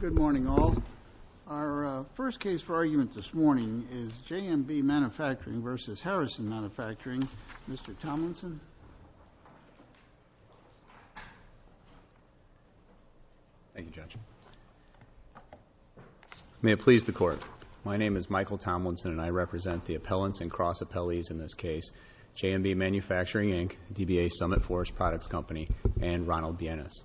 Good morning all. Our first case for argument this morning is JMB Manufacturing v. Harrison Manufacturing. Mr. Tomlinson. Thank you, Judge. May it please the Court. My name is Michael Tomlinson, and I represent the appellants and cross-appellees in this case, JMB Manufacturing, Inc., DBA Summit Forest Products Company, and Ronald Bienes.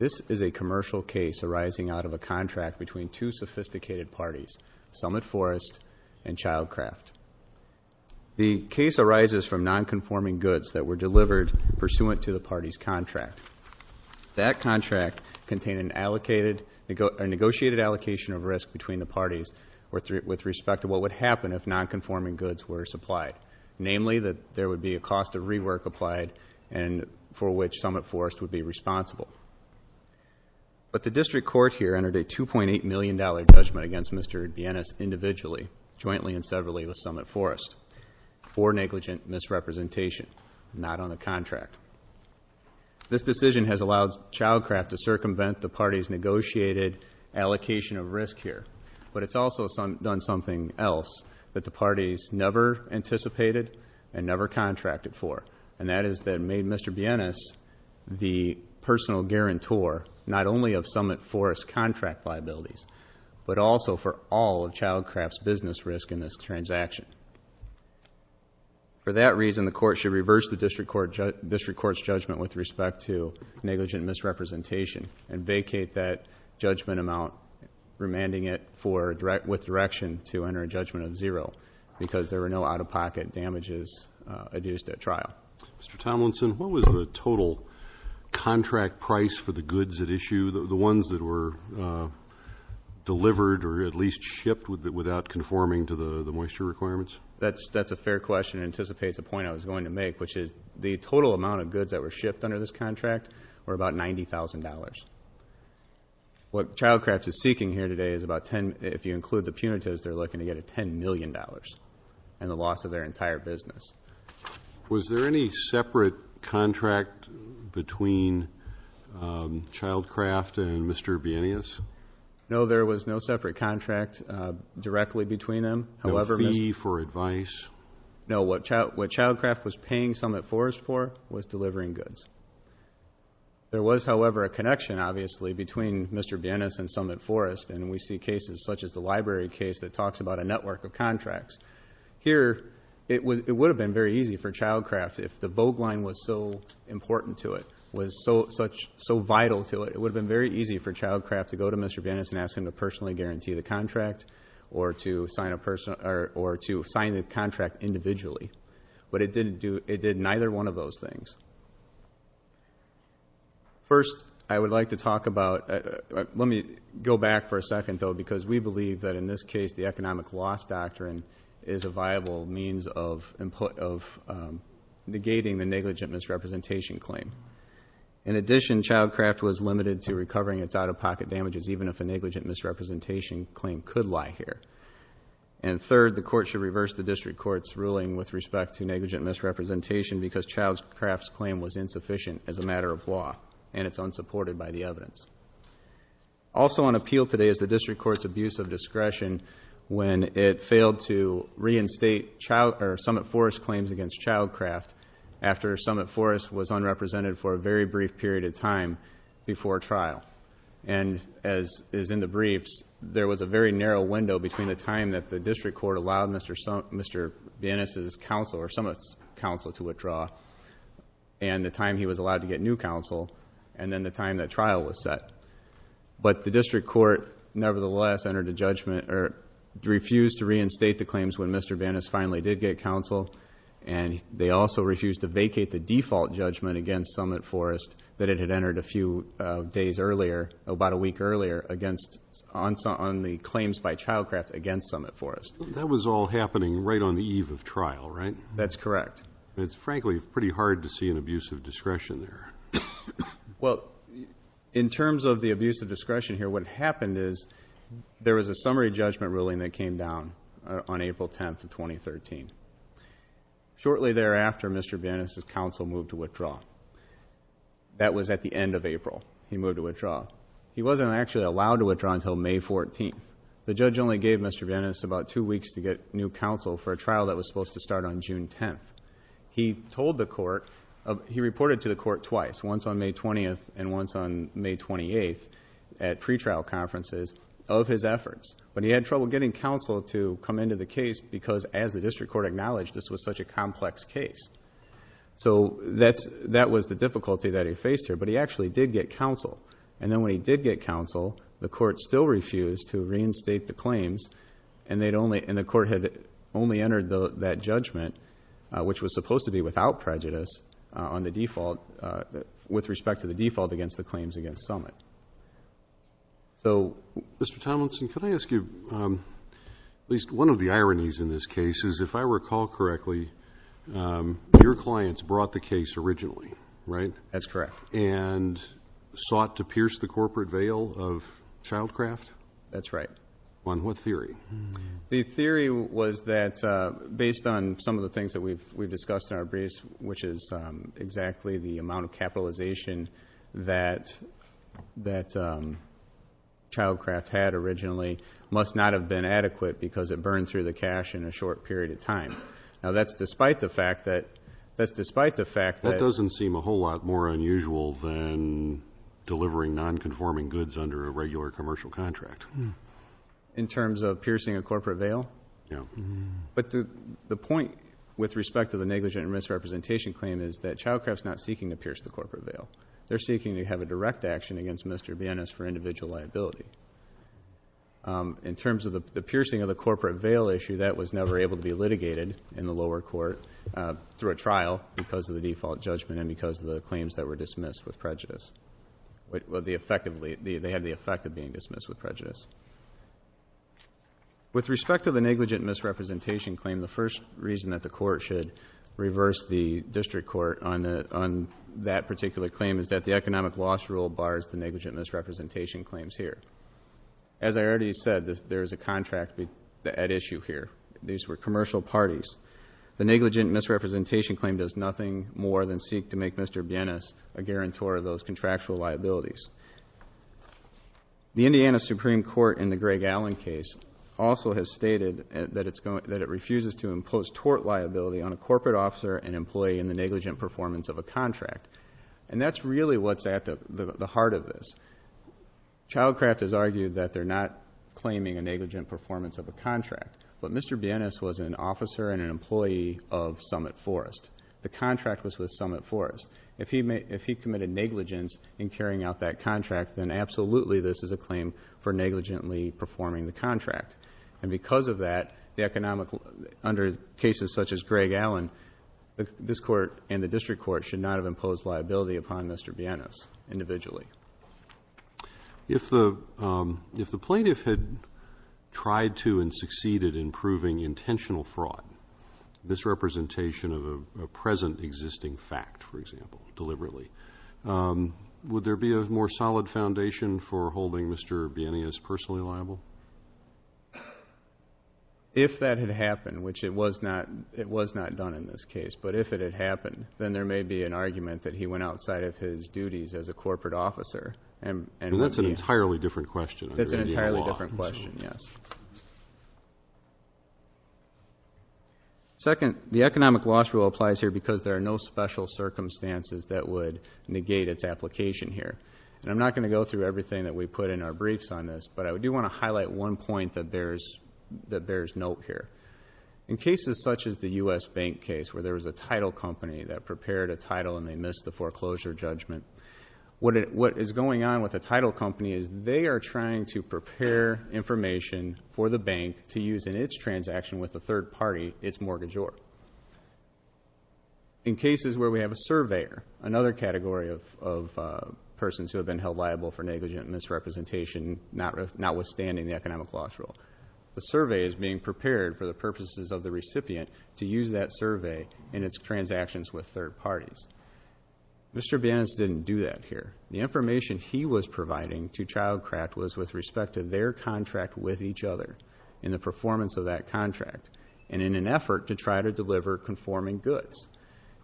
This is a commercial case arising out of a contract between two sophisticated parties, Summit Forest and Childcraft. The case arises from nonconforming goods that were delivered pursuant to the parties' contract. That contract contained a negotiated allocation of risk between the parties with respect to what would happen if nonconforming goods were supplied, namely that there would be a cost of rework applied and for which Summit Forest would be responsible. But the District Court here entered a $2.8 million judgment against Mr. Bienes individually, jointly and severally with Summit Forest, for negligent misrepresentation, not on the contract. This decision has allowed Childcraft to circumvent the parties' negotiated allocation of risk here, but it's also done something else that the parties never anticipated and never contracted for, and that is that it made Mr. Bienes the personal guarantor not only of Summit Forest's contract liabilities, but also for all of Childcraft's business risk in this transaction. For that reason, the Court should reverse the District Court's judgment with respect to negligent misrepresentation and vacate that judgment amount, remanding it with direction to enter a judgment of zero because there were no out-of-pocket damages adduced at trial. Mr. Tomlinson, what was the total contract price for the goods at issue, the ones that were delivered or at least shipped without conforming to the moisture requirements? That's a fair question and anticipates a point I was going to make, which is the total amount of goods that were shipped under this contract were about $90,000. What Childcraft is seeking here today is about 10, if you include the punitives, they're looking to get $10 million and the loss of their entire business. Was there any separate contract between Childcraft and Mr. Bienes? No, there was no separate contract directly between them. No fee for advice? No, what Childcraft was paying Summit Forest for was delivering goods. There was, however, a connection, obviously, between Mr. Bienes and Summit Forest and we see cases such as the library case that talks about a network of contracts. Here, it would have been very easy for Childcraft if the Vogt Line was so important to it, was so vital to it, it would have been very easy for Childcraft to go to Mr. Bienes and ask him to personally guarantee the contract or to sign the contract individually. But it didn't do, it did neither one of those things. First, I would like to talk about, let me go back for a second, though, because we believe that in this case the economic loss doctrine is a viable means of negating the negligent misrepresentation claim. In addition, Childcraft was limited to recovering its out-of-pocket damages and the negligent misrepresentation claim could lie here. And third, the court should reverse the district court's ruling with respect to negligent misrepresentation because Childcraft's claim was insufficient as a matter of law and it's unsupported by the evidence. Also on appeal today is the district court's abuse of discretion when it failed to reinstate Summit Forest's claims against Childcraft after Summit Forest was unrepresented for a very brief period of time before trial. And as is in the briefs, there was a very narrow window between the time that the district court allowed Mr. Bienes' counsel or Summit's counsel to withdraw and the time he was allowed to get new counsel and then the time that trial was set. But the district court nevertheless refused to reinstate the claims when Mr. Bienes finally did get counsel and they also refused to vacate the default judgment against Summit Forest that it had entered a few days earlier, about a week earlier on the claims by Childcraft against Summit Forest. That was all happening right on the eve of trial, right? That's correct. It's frankly pretty hard to see an abuse of discretion there. Well, in terms of the abuse of discretion here, what happened is there was a summary judgment ruling that came down on April 10th of 2013. Shortly thereafter, Mr. Bienes' counsel moved to withdraw. That was at the end of April. He moved to withdraw. He wasn't actually allowed to withdraw until May 14th. The judge only gave Mr. Bienes about two weeks to get new counsel for a trial that was supposed to start on June 10th. He told the court, he reported to the court twice, once on May 20th and once on May 28th at pretrial conferences of his efforts. But he had trouble getting counsel to come into the case because, as the district court acknowledged, this was such a complex case. So that was the difficulty that he faced here, but he actually did get counsel. And then when he did get counsel, the court still refused to reinstate the claims and the court had only entered that judgment, which was supposed to be without prejudice with respect to the default against the claims against Summit. So... Mr. Tomlinson, can I ask you, at least one of the ironies in this case is, if I recall correctly, your clients brought the case originally, right? That's correct. And sought to pierce the corporate veil of child craft? That's right. On what theory? The theory was that, based on some of the things that we've discussed in our briefs, which is exactly the amount of capitalization that child craft had originally, must not have been adequate because it burned through the cash in a short period of time. Now, that's despite the fact that... That doesn't seem a whole lot more unusual than delivering nonconforming goods under a regular commercial contract. In terms of piercing a corporate veil? Yeah. But the point, with respect to the negligent misrepresentation claim, is that child craft's not seeking to pierce the corporate veil. They're seeking to have a direct action against Mr. Bienes for individual liability. In terms of the piercing of the corporate veil issue, that was never able to be litigated in the lower court through a trial because of the default judgment and because of the claims that were dismissed with prejudice. They had the effect of being dismissed with prejudice. With respect to the negligent misrepresentation claim, the first reason that the court should reverse the district court on that particular claim is that the economic loss rule bars the negligent misrepresentation claims here. As I already said, there is a contract at issue here. These were commercial parties. The negligent misrepresentation claim does nothing more than seek to make Mr. Bienes a guarantor of those contractual liabilities. The Indiana Supreme Court, in the Greg Allen case, also has stated that it refuses to impose tort liability on a corporate officer and employee in the negligent performance of a contract. And that's really what's at the heart of this. Child craft has argued that they're not claiming a negligent performance of a contract. But Mr. Bienes was an officer and an employee of Summit Forest. The contract was with Summit Forest. If he committed negligence in carrying out that contract, then absolutely this is a claim for negligently performing the contract. And because of that, under cases such as Greg Allen, this court and the district court should not have imposed liability upon Mr. Bienes individually. If the plaintiff had tried to and succeeded in proving intentional fraud, misrepresentation of a present existing fact, for example, deliberately, would there be a more solid foundation for holding Mr. Bienes personally liable? If that had happened, which it was not done in this case, but if it had happened, then there may be an argument that he went outside of his duties as a corporate officer. And that's an entirely different question. That's an entirely different question, yes. Second, the economic loss rule applies here because there are no special circumstances that would negate its application here. And I'm not going to go through everything that we put in our briefs on this, but I do want to highlight one point that bears note here. In cases such as the U.S. Bank case where there was a title company that prepared a title and they missed the foreclosure judgment, what is going on with the title company is they are trying to prepare information for the bank to use in its transaction with a third party, its mortgagor. In cases where we have a surveyor, another category of persons who have been held liable for negligent misrepresentation, notwithstanding the economic loss rule, the survey is being prepared for the purposes of the recipient to use that survey in its transactions with third parties. Mr. Bienes didn't do that here. The information he was providing to Child Crack was with respect to their contract with each other and the performance of that contract and in an effort to try to deliver conforming goods.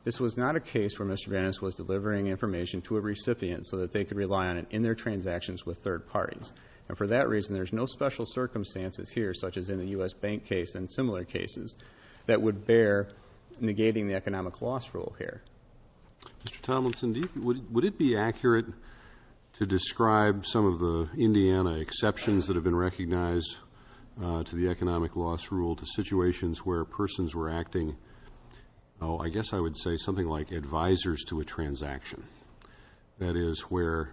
This was not a case where Mr. Bienes was delivering information to a recipient so that they could rely on it in their transactions with third parties. And for that reason, there's no special circumstances here, such as in the U.S. Bank case and similar cases, that would bear negating the economic loss rule here. Mr. Tomlinson, would it be accurate to describe some of the Indiana exceptions that have been recognized to the economic loss rule to situations where persons were acting, oh, I guess I would say something like advisors to a transaction. That is where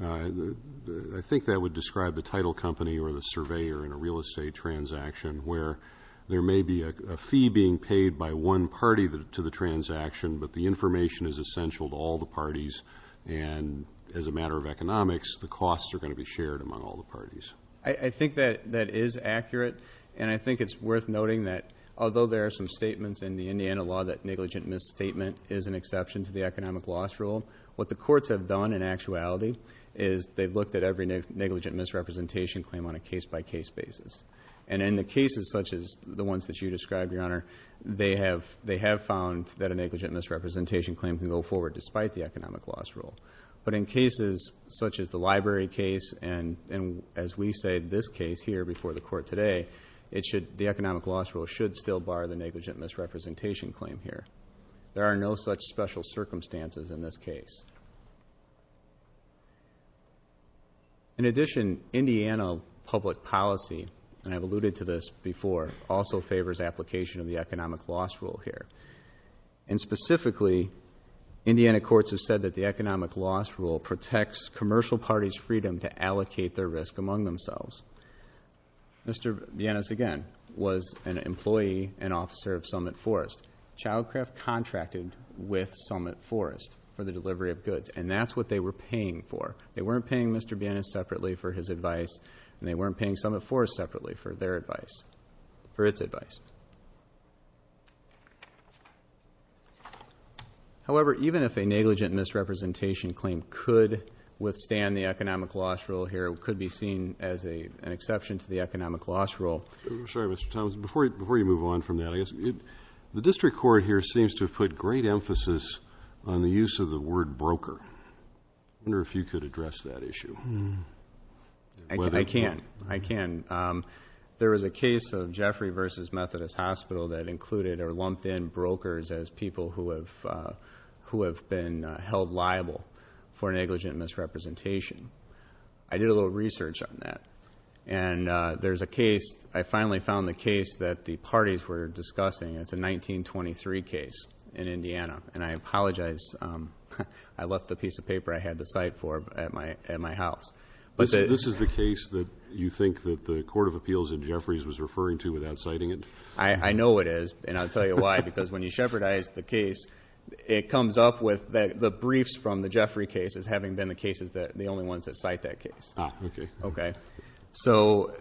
I think that would describe the title company or the surveyor in a real estate transaction where there may be a fee being paid by one party to the transaction, but the information is essential to all the parties. And as a matter of economics, the costs are going to be shared among all the parties. I think that is accurate, and I think it's worth noting that although there are some statements in the Indiana law that negligent misstatement is an exception to the economic loss rule, what the courts have done in actuality is they've looked at every negligent misrepresentation claim on a case-by-case basis. And in the cases such as the ones that you described, Your Honor, they have found that a negligent misrepresentation claim can go forward despite the economic loss rule. But in cases such as the library case and, as we say, this case here before the Court today, the economic loss rule should still bar the negligent misrepresentation claim here. There are no such special circumstances in this case. In addition, Indiana public policy, and I've alluded to this before, also favors application of the economic loss rule here. And specifically, Indiana courts have said that the economic loss rule protects commercial parties' freedom to allocate their risk among themselves. Mr. Bienes, again, was an employee and officer of Summit Forest. Childcraft contracted with Summit Forest for the delivery of goods, and that's what they were paying for. They weren't paying Mr. Bienes separately for his advice, and they weren't paying Summit Forest separately for their advice, for its advice. However, even if a negligent misrepresentation claim could withstand the economic loss rule here, it could be seen as an exception to the economic loss rule. I'm sorry, Mr. Thomas. Before you move on from that, I guess, the district court here seems to have put great emphasis on the use of the word broker. I wonder if you could address that issue. I can. I can. There was a case of Jeffrey v. Methodist Hospital that included or lumped in brokers as people who have been held liable for negligent misrepresentation. I did a little research on that. And there's a case, I finally found the case that the parties were discussing. It's a 1923 case in Indiana. And I apologize. I left the piece of paper I had to cite for at my house. This is the case that you think that the Court of Appeals and Jeffreys was referring to without citing it? I know it is. And I'll tell you why. Because when you shepherdize the case, it comes up with the briefs from the Jeffrey case as having been the cases, the only ones that cite that case. Ah, okay. So,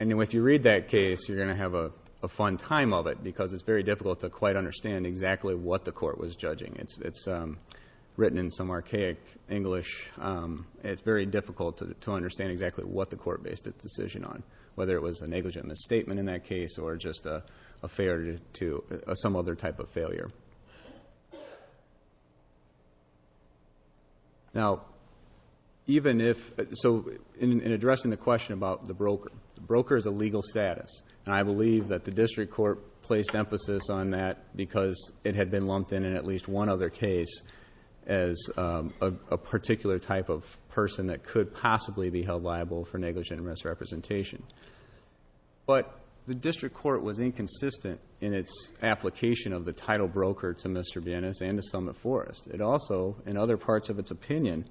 anyway, if you read that case, you're going to have a fun time of it because it's very difficult to quite understand exactly what the Court was judging. It's written in some archaic English. It's very difficult to understand exactly what the Court based its decision on, whether it was a negligent misstatement in that case or just a failure to, some other type of failure. Now, even if, so, in addressing the question about the broker, the broker is a legal status. And I believe that the district court placed emphasis on that because it had been lumped in in at least one other case as a particular type of person that could possibly be held liable for negligent misrepresentation. But the district court was inconsistent in its application of the title broker to Mr. Bienes and to Summit Forest. It also, in other parts of its opinion,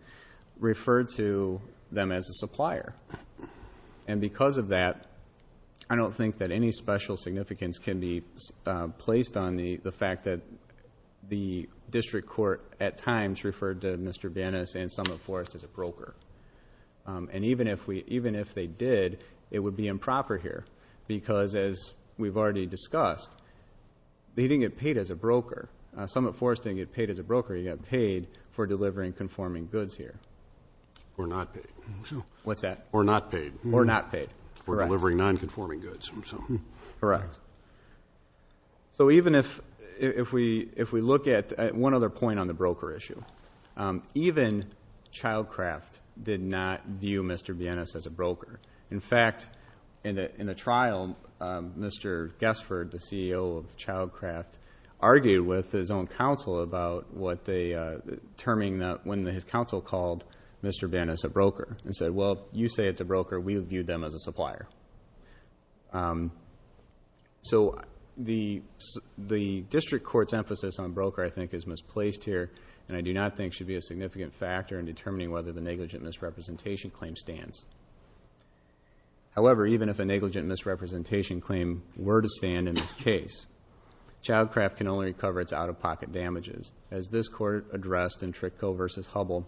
referred to them as a supplier. And because of that, I don't think that any special significance can be placed on the fact that the district court, at times, referred to Mr. Bienes and Summit Forest as a broker. And even if we, even if they did, it would be improper here because, as we've already discussed, they didn't get paid as a broker. Summit Forest didn't get paid as a broker. He got paid for delivering conforming goods here. Or not paid. What's that? Or not paid. Or not paid. Correct. Or delivering nonconforming goods. Correct. So even if we look at one other point on the broker issue, even Childcraft did not view Mr. Bienes as a broker. In fact, in a trial, Mr. Guestford, the CEO of Childcraft, argued with his own counsel about what they, when his counsel called Mr. Bienes a broker and said, well, you say it's a broker, we would view them as a supplier. So the district court's emphasis on broker, I think, is misplaced here and I do not think should be a significant factor in determining whether the negligent misrepresentation claim stands. However, even if a negligent misrepresentation claim were to stand in this case, Childcraft can only recover its out-of-pocket damages. As this court addressed in Tricco v. Hubbell,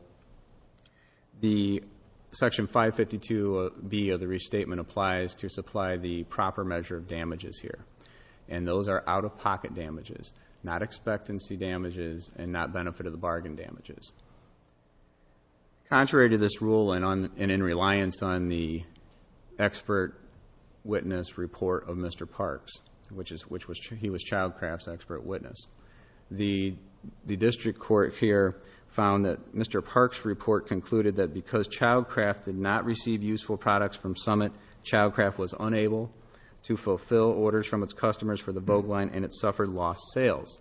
the Section 552B of the restatement applies to supply the proper measure of damages here. And those are out-of-pocket damages, not expectancy damages and not benefit-of-the-bargain damages. Contrary to this rule and in reliance on the expert witness report of Mr. Parks, which he was Childcraft's expert witness, the district court here found that Mr. Parks' report concluded that because Childcraft did not receive useful products from Summit, Childcraft was unable to fulfill orders from its customers for the boat line and it suffered lost sales.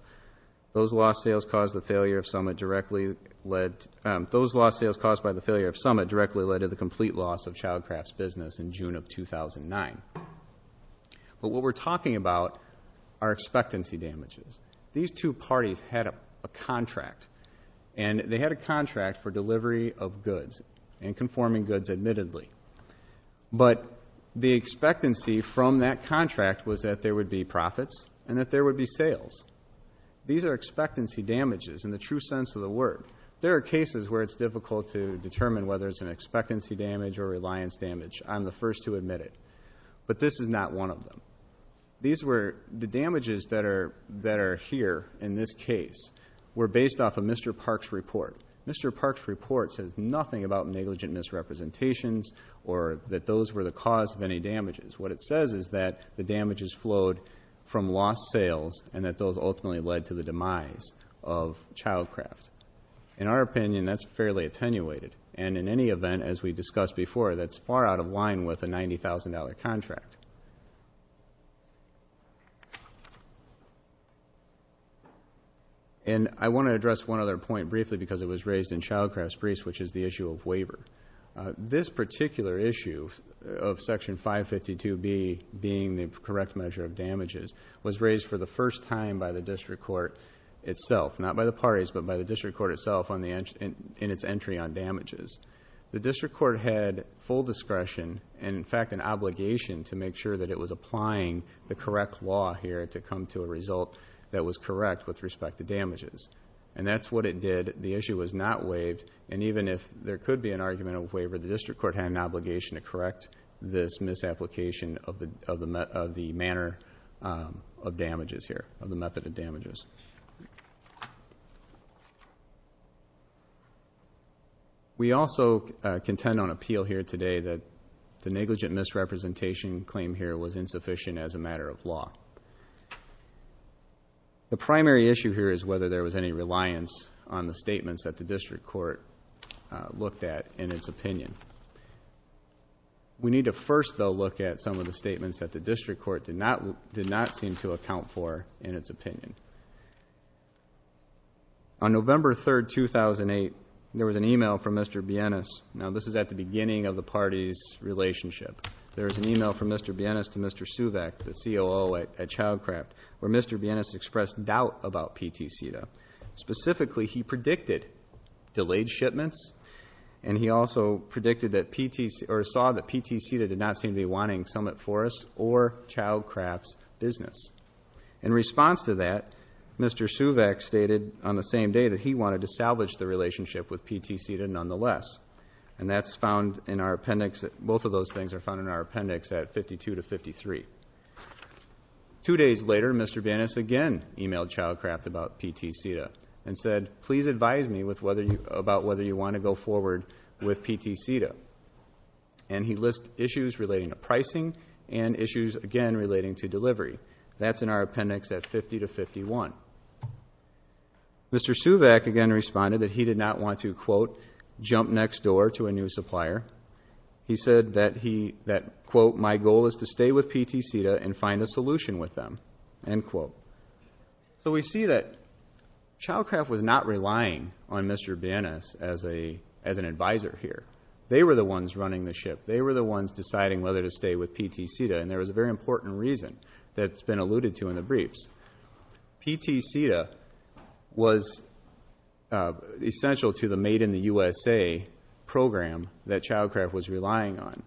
Those lost sales caused by the failure of Summit directly led to the complete loss of Childcraft's business in June of 2009. But what we're talking about are expectancy damages. These two parties had a contract and they had a contract for delivery of goods and conforming goods admittedly. But the expectancy from that contract was that there would be profits and that there would be sales. These are expectancy damages in the true sense of the word. There are cases where it's difficult to determine whether it's an expectancy damage or reliance damage. I'm the first to admit it. But this is not one of them. The damages that are here in this case were based off of Mr. Parks' report. Mr. Parks' report says nothing about negligent misrepresentations or that those were the cause of any damages. What it says is that the damages flowed from lost sales and that those ultimately led to the demise of Childcraft. In our opinion, that's fairly attenuated. And in any event, as we discussed before, that's far out of line with a $90,000 contract. And I want to address one other point briefly because it was raised in Childcraft's briefs, which is the issue of waiver. This particular issue of Section 552B being the correct measure of damages was raised for the first time by the District Court itself. Not by the parties, but by the District Court itself in its entry on damages. The District Court had full discretion and, in fact, an obligation to make sure that it was applying the correct law here to come to a result that was correct with respect to damages. And that's what it did. The issue was not waived. And even if there could be an argument of waiver, the District Court had an obligation to correct this misapplication of the manner of damages here, of the method of damages. We also contend on appeal here today that the negligent misrepresentation claim here was insufficient as a matter of law. The primary issue here is whether there was any reliance on the statements that the District Court looked at in its opinion. We need to first, though, look at some of the statements that the District Court did not seem to account for in its opinion. On November 3, 2008, there was an email from Mr. Bienes. Now, this is at the beginning of the parties' relationship. There was an email from Mr. Bienes to Mr. Suvac, the COO at Childcraft, where Mr. Bienes expressed doubt about PTCDA. Specifically, he predicted delayed shipments, and he also predicted that PTC, or saw that PTCDA did not seem to be wanting Summit Forest or Childcraft's business. In response to that, Mr. Suvac stated on the same day that he wanted to salvage the relationship with PTCDA nonetheless. And that's found in our appendix. Both of those things are found in our appendix at 52 to 53. Two days later, Mr. Bienes again emailed Childcraft about PTCDA and said, please advise me about whether you want to go forward with PTCDA. And he listed issues relating to pricing and issues, again, relating to delivery. That's in our appendix at 50 to 51. Mr. Suvac again responded that he did not want to, quote, jump next door to a new supplier. He said that, quote, my goal is to stay with PTCDA and find a solution with them, end quote. So we see that Childcraft was not relying on Mr. Bienes as an advisor here. They were the ones running the ship. They were the ones deciding whether to stay with PTCDA, and there was a very important reason that's been alluded to in the briefs. PTCDA was essential to the Made in the USA program that Childcraft was relying on.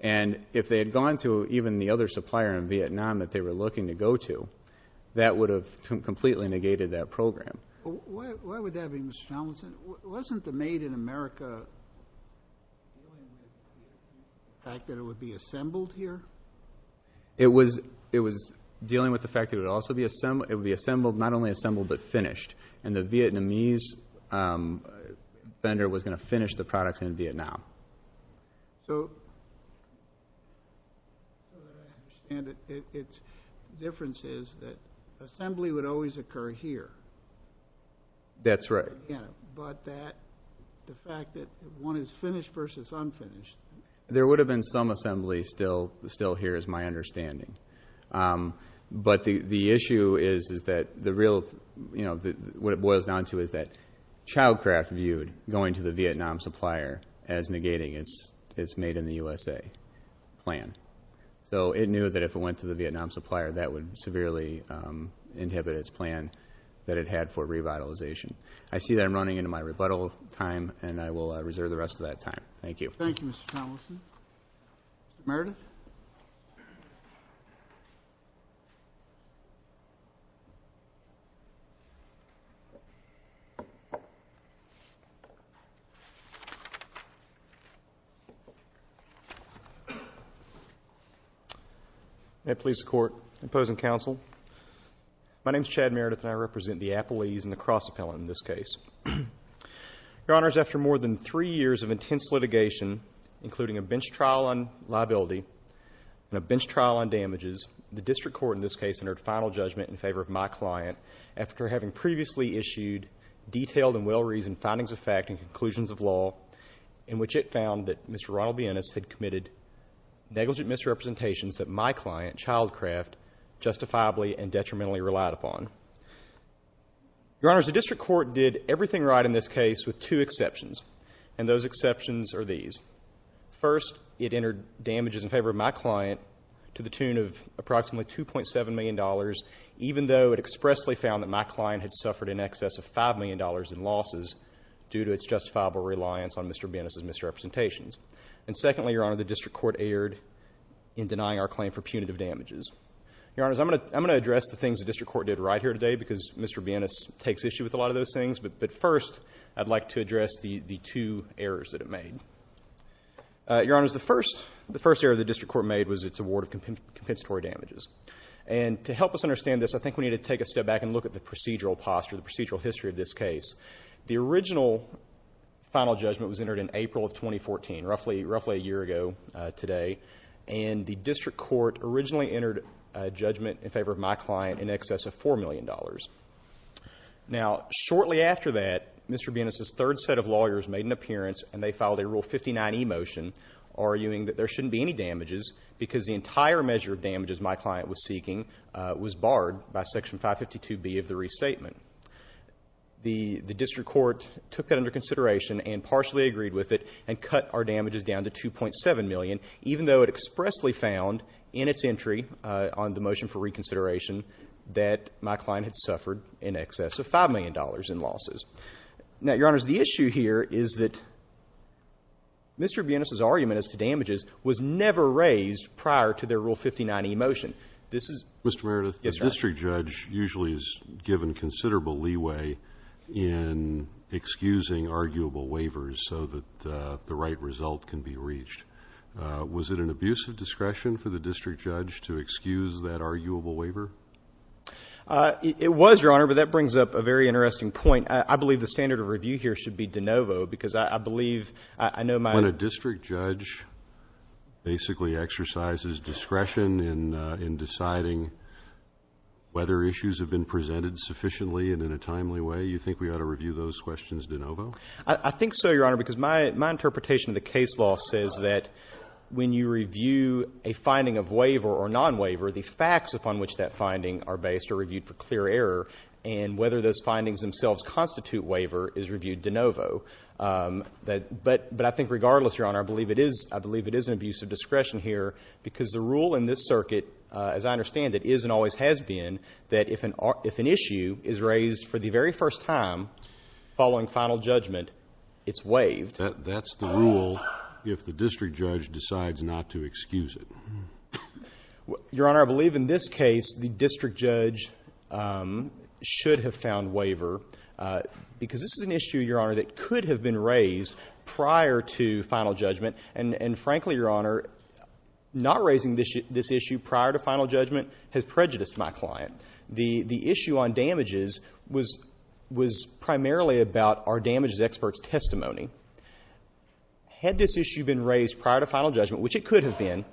And if they had gone to even the other supplier in Vietnam that they were looking to go to, that would have completely negated that program. Why would that be, Mr. Tomlinson? Wasn't the Made in America the fact that it would be assembled here? It was dealing with the fact that it would also be assembled, not only assembled, but finished. And the Vietnamese vendor was going to finish the products in Vietnam. So, as far as I understand it, the difference is that assembly would always occur here. That's right. Yeah, but that, the fact that one is finished versus unfinished. There would have been some assembly still here is my understanding. But the issue is that the real, what it boils down to is that Childcraft viewed going to the Vietnam supplier as negating its Made in the USA plan. So, it knew that if it went to the Vietnam supplier, that would severely inhibit its plan that it had for revitalization. I see that I'm running into my rebuttal time, and I will reserve the rest of that time. Thank you. Thank you, Mr. Tomlinson. Meredith. May it please the Court. Opposing counsel. My name is Chad Meredith, and I represent the Appellees and the Cross Appellant in this case. Your Honors, after more than three years of intense litigation, including a bench trial on liability and a bench trial on damages, the District Court in this case entered final judgment in favor of my client after having previously issued detailed and well-reasoned findings of fact and conclusions of law in which it found that Mr. Ronald Bienes had committed negligent misrepresentations that my client, Childcraft, justifiably and detrimentally relied upon. Your Honors, the District Court found everything right in this case with two exceptions, and those exceptions are these. First, it entered damages in favor of my client to the tune of approximately $2.7 million, even though it expressly found that my client had suffered in excess of $5 million in losses due to its justifiable reliance on Mr. Bienes's misrepresentations. And secondly, Your Honor, the District Court erred in denying our claim for punitive damages. Your Honors, I'm going to address the things the District Court did right here today because Mr. Bienes takes issue with a lot of those things, but first, I'd like to address the two errors that it made. Your Honors, the first error the District Court made was its award of compensatory damages. And to help us understand this, I think we need to take a step back and look at the procedural posture, the procedural history of this case. The original final judgment was entered in April of 2014, roughly a year ago today, that my client suffered in excess of $4 million. Now, shortly after that, Mr. Bienes's third set of lawyers made an appearance and they filed a Rule 59e motion arguing that there shouldn't be any damages because the entire measure of damages my client was seeking was barred by Section 552b of the restatement. The District Court took that under consideration and partially agreed with it and cut our damages down to $2.7 million, even though it expressly found in its entry that my client had suffered in excess of $5 million in losses. Now, Your Honors, the issue here is that Mr. Bienes's argument as to damages was never raised prior to their Rule 59e motion. Mr. Meredith, the district judge usually is given considerable leeway in excusing arguable waivers so that the right result can be reached. Was it an abuse of discretion for the district judge to excuse that arguable waiver? It was, Your Honor, but that brings up a very interesting point. I believe the standard of review here should be de novo because I believe I know my... When a district judge basically exercises discretion in deciding whether issues have been presented sufficiently and in a timely way, you think we ought to review those questions de novo? I think so, Your Honor, because my interpretation of the case law says that when you review a finding of waiver or non-waiver, the facts upon which that finding are based are reviewed for clear error and whether those findings themselves constitute waiver is reviewed de novo. But I think regardless, Your Honor, I believe it is an abuse of discretion here because the rule in this circuit, as I understand it, is and always has been that if an issue is raised for the very first time following final judgment, it's waived. That's the rule if the district judge decides not to excuse it. Your Honor, I believe in this case the district judge should have found waiver because this is an issue, Your Honor, that could have been raised prior to final judgment and frankly, Your Honor, not raising this issue prior to final judgment has prejudiced my client. The issue on damages was primarily about our damages expert's testimony. Had this issue been raised prior to final judgment, which it could have been,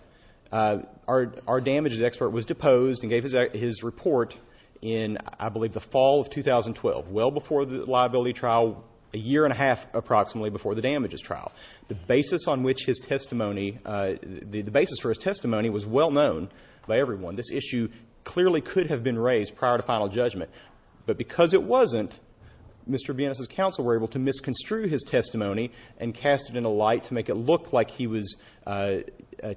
our damages expert was deposed and gave his report in, I believe, the fall of 2012, well before the liability trial, a year and a half approximately before the damages trial. The basis on which his testimony, the basis for his testimony was well known by everyone. This issue clearly could have been raised prior to final judgment. But because it wasn't, Mr. Bienes' counsel were able to misconstrue his testimony and cast it in a light to make it look like he was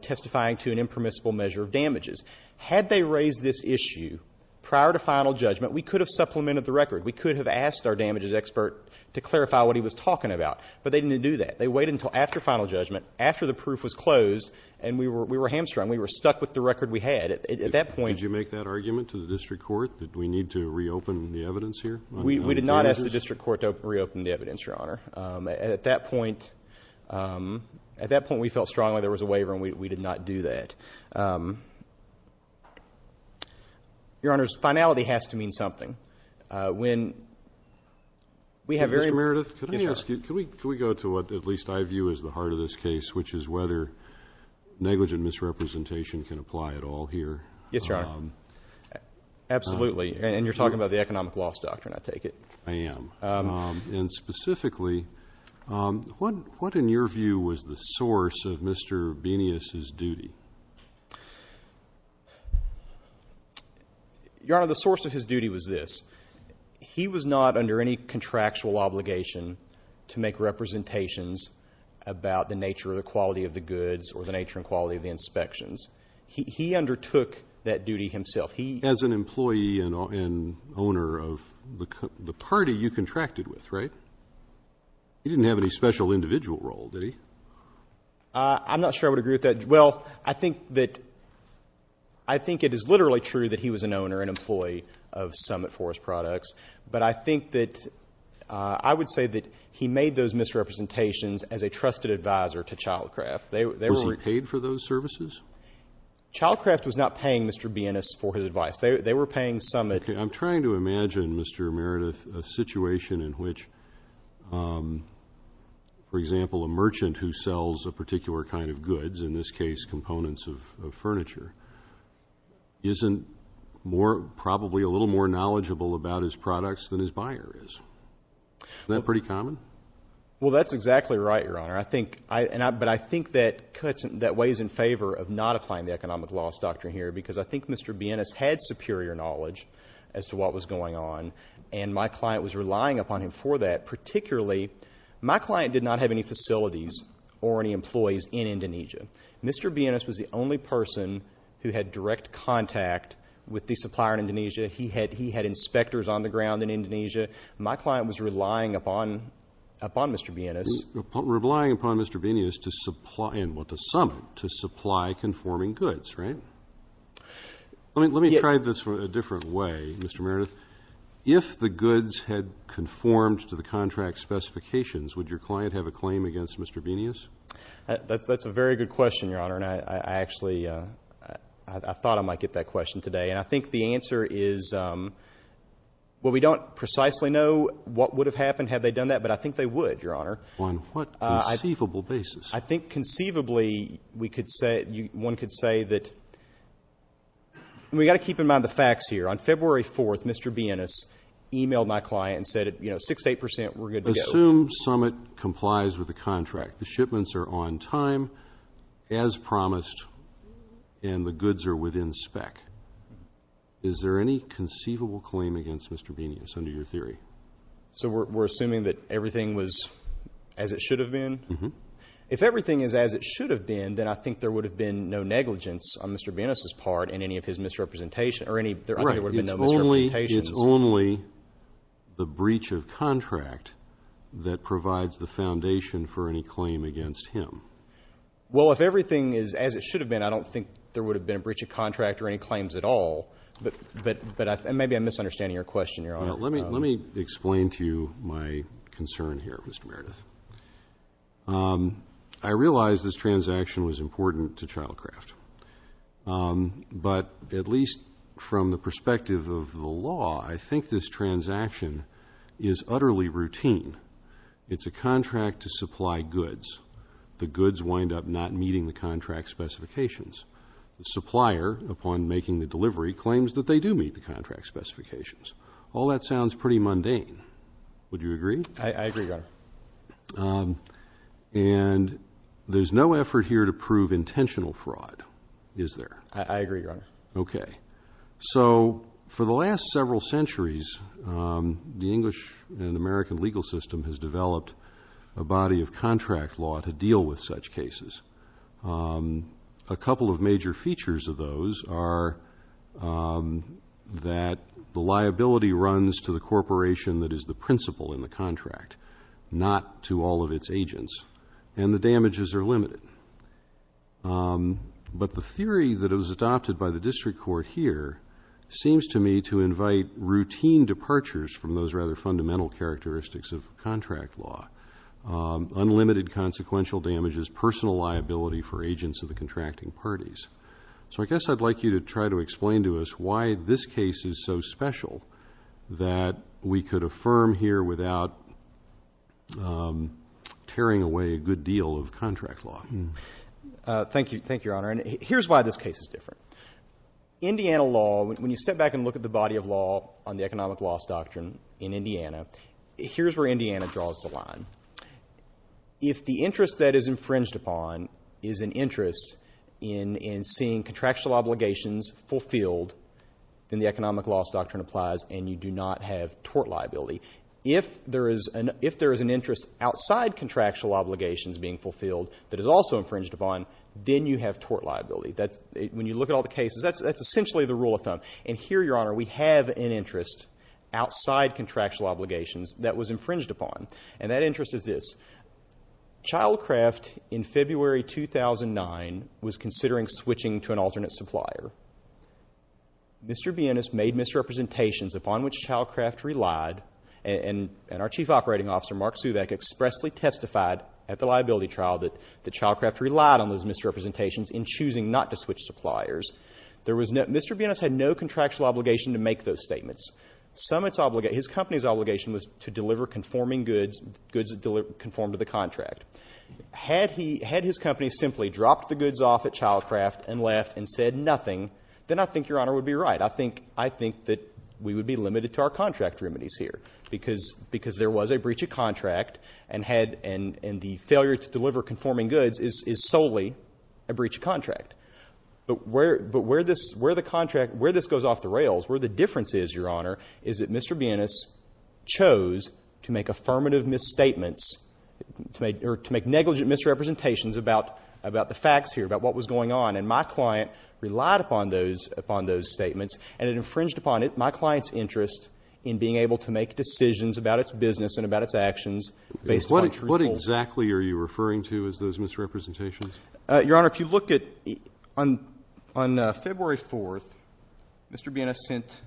testifying to an impermissible measure of damages. Had they raised this issue prior to final judgment, we could have supplemented the record. We could have asked our damages expert to clarify what he was talking about. But they didn't do that. They waited until after final judgment, after the proof was closed, and we were hamstrung. We were stuck with the record we had. At that point... Did you make that argument to the district court that we need to reopen the evidence here? We did not ask the district court to reopen the evidence, Your Honor. At that point, at that point we felt strongly there was a waiver and we did not do that. Your Honor, finality has to mean something. When... Mr. Meredith, could I ask you, could we go to what at least I view as the heart of this case, which is whether negligent misrepresentation can apply at all here? Yes, Your Honor. Absolutely. And you're talking about the economic loss doctrine, I take it. I am. And specifically, what in your view was the source of Mr. Benious' duty? Your Honor, the source of his duty was this. He was not under any contractual obligation to make representations about the nature or the quality of the goods or the nature and quality of the inspections. He undertook that duty himself. He... As an employee and owner of the party you contracted with, right? He didn't have any special individual role, did he? I'm not sure I would agree with that. Well, I think that... I think it is literally true that he was an owner and employee of Summit Forest Products. But I think that I would say that he made those misrepresentations as a trusted advisor to Childcraft. They were... Was he paid for those services? Childcraft was not paying Mr. Benious for his advice. They were paying Summit... I'm trying to imagine, Mr. Meredith, a situation in which, for example, a merchant who sells a particular kind of goods, in this case, components of furniture, isn't more... probably a little more knowledgeable about his products than his buyer is. Isn't that pretty common? Well, that's exactly right, Your Honor. I think... But I think that weighs in favor of not applying the economic loss doctrine here because I think Mr. Benious had superior knowledge as to what was going on and my client was relying upon him for that, particularly... for any facilities or any employees in Indonesia. Mr. Benious was the only person who had direct contact with the supplier in Indonesia. He had... He had inspectors on the ground in Indonesia. My client was relying upon... upon Mr. Benious. Relying upon Mr. Benious to supply... well, to Summit to supply conforming goods, right? Let me... Let me try this a different way, Mr. Meredith. If the goods had conformed to the contract specifications, would your client have a claim against Mr. Benious? That's... That's a very good question, Your Honor, and I actually... I thought I might get that question today and I think the answer is... Well, we don't precisely know what would have happened had they done that, but I think they would, Your Honor. On what conceivable basis? I think conceivably we could say... One could say that... We've got to keep in mind the facts here. On February 4th, Mr. Benious emailed my client and said, you know, six to eight percent, we're good to go. Assume Summit complies with the contract. The shipments are on time, as promised, and the goods are within spec. Is there any conceivable claim against Mr. Benious under your theory? So we're assuming that everything was as it should have been? Mm-hmm. If everything is as it should have been, then I think there would have been no negligence on Mr. Benious's part in any of his misrepresentation or any... Right. I think there would have been no misrepresentations. It's only the breach of contract that provides the foundation for any claim against him. Well, if everything is as it should have been, I don't think there would have been a breach of contract or any claims at all, but maybe I'm misunderstanding your question, Your Honor. Let me explain to you my concern here, Mr. Meredith. I realize this transaction was important to Childcraft, but at least from the perspective of the law, I think this transaction is utterly routine. It's a contract to supply goods. The goods wind up not meeting the contract specifications. The supplier, upon making the delivery, claims that they do meet the contract specifications. All that sounds pretty mundane. Would you agree? I agree, Your Honor. And there's no effort here to prove intentional fraud, is there? I agree, Your Honor. Okay. So, for the last several centuries, the English and American legal system has developed a body of contract law to deal with such cases. A couple of major features of those are that the liability runs to the corporation that is the principal in the contract, not to all of its agents, and the damages are limited. But the theory that it was adopted by the district court here seems to me to invite routine departures from those rather fundamental characteristics of contract law. Unlimited consequential damages, personal liability for agents of the contracting parties. So I guess I'd like you to try to explain to us why this case is so special that we could affirm here without tearing away a good deal of contract law. Thank you, Your Honor. And here's why this case is different. Indiana law, when you step back and look at the body of law on the economic loss doctrine in Indiana, here's where Indiana draws the line. If the interest that is infringed upon is an interest in seeing contractual obligations fulfilled, then the economic loss doctrine applies and you do not have tort liability. If there is an interest outside contractual obligations being fulfilled that is also infringed upon, then you have tort liability. When you look at all the cases, that's essentially the rule of thumb. And here, Your Honor, we have an interest outside contractual obligations that was infringed upon. And that interest is this. Childcraft, in February 2009, was considering switching to an alternate supplier. Mr. Bienes made misrepresentations upon which Childcraft relied and our Chief Operating Officer, Mark Suvac, expressly testified at the liability trial that Childcraft relied on those misrepresentations in choosing not to switch suppliers. Mr. Bienes had no contractual obligation to make those statements. His company's obligation was to deliver conforming goods, goods that conformed to the contract. Had his company simply dropped the goods off at Childcraft and left and said nothing, then I think Your Honor would be right. I think that we would be limited to our contract remedies here because there was a breach of contract and the failure to deliver conforming goods is solely a breach of contract. But where this goes off the rails, where the difference is, Your Honor, is that Mr. Bienes chose to make affirmative misstatements or to make negligent misrepresentations about the facts here, about what was going on, and my client relied upon those statements and it infringed upon my client's interest in being able to make decisions about its business and about its actions based upon true rules. What exactly are you referring to as those misrepresentations? Your Honor, if you look at, on February 4th, Mr. Bienes sent,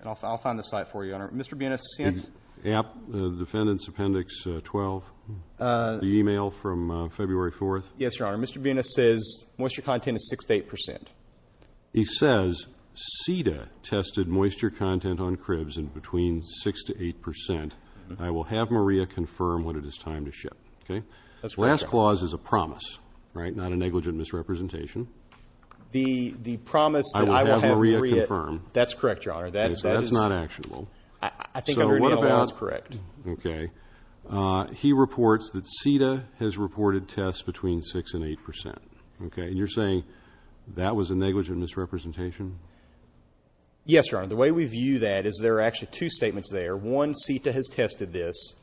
and I'll find the site for you, Your Honor, Mr. Bienes sent... App, Defendant's Appendix 12, the email from February 4th. Yes, Your Honor, Mr. Bienes says moisture content is 6 to 8 percent. He says, CETA tested moisture content on cribs in between 6 to 8 percent. I will have Maria confirm when it is time to ship. Okay? Last clause is a promise, right? Not a negligent misrepresentation. The promise... I will have Maria confirm. That's correct, Your Honor. That is... That's not actionable. I think under NALA that's correct. Okay. He reports that CETA has reported tests between 6 and 8 percent. Okay? And you're saying that was a negligent misrepresentation? Yes, Your Honor. The way we view that is there are actually two statements there. One, CETA has tested this.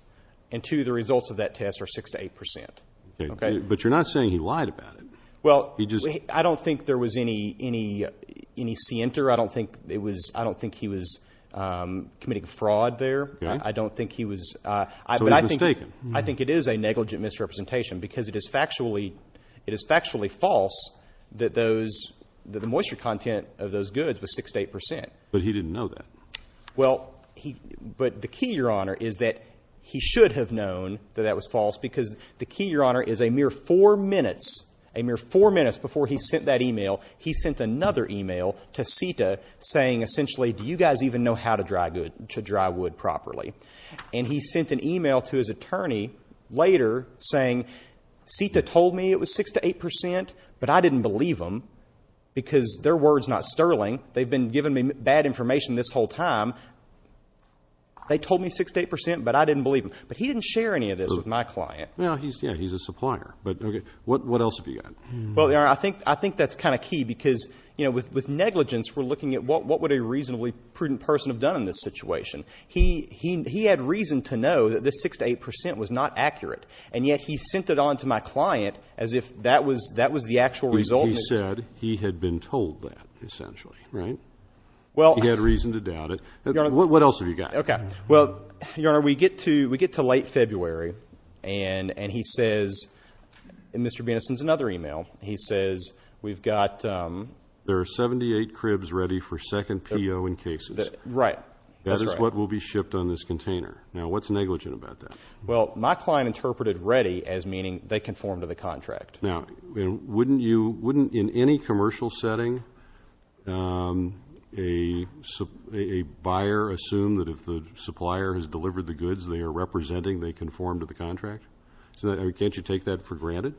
And two, the results of that test are 6 to 8 percent. Okay? But you're not saying he lied about it. Well... He just... I don't think there was any... any... any scienter. I don't think it was... I don't think he was committing fraud there. Okay. I don't think he was... So he was mistaken. I think it is a negligent misrepresentation because it is factually... it is factually false that those... that the moisture content of those goods was 6 to 8 percent. But he didn't know that. Well, he... But the key, Your Honor, is that he should have known that that was false because the key, Your Honor, is a mere four minutes, a mere four minutes before he sent that email, he sent another email to CETA saying, essentially, do you guys even know how to dry good... to dry wood properly? And he sent an email to his attorney later saying, CETA told me it was 6 to 8 percent, but I didn't believe them because their word's not sterling. They've been giving me bad information this whole time. They told me 6 to 8 percent, but I didn't believe them. But he didn't share any of this with my client. Yeah, he's a supplier, but what else have you got? Well, Your Honor, I think that's kind of key because, you know, with negligence, we're looking at what would a reasonably prudent person have done in this situation. He had reason to know that this 6 to 8 percent was not accurate, and yet he sent it on to my client as if that was the actual result. He said he had been told that, essentially, right? Well... He had reason to doubt it. Your Honor... What else have you got? Okay, well, Your Honor, we get to late February, and he says, in Mr. Beneson's another email, he says we've got... There are 78 cribs ready for second P.O. in cases. Right, that's right. That is what will be shipped on this container. Now, what's negligent about that? Well, my client interpreted ready as meaning they conform to the contract. Now, wouldn't you, wouldn't in any commercial setting a buyer assume that if the supplier has delivered the goods they are representing, they conform to the contract? Can't you take that for granted?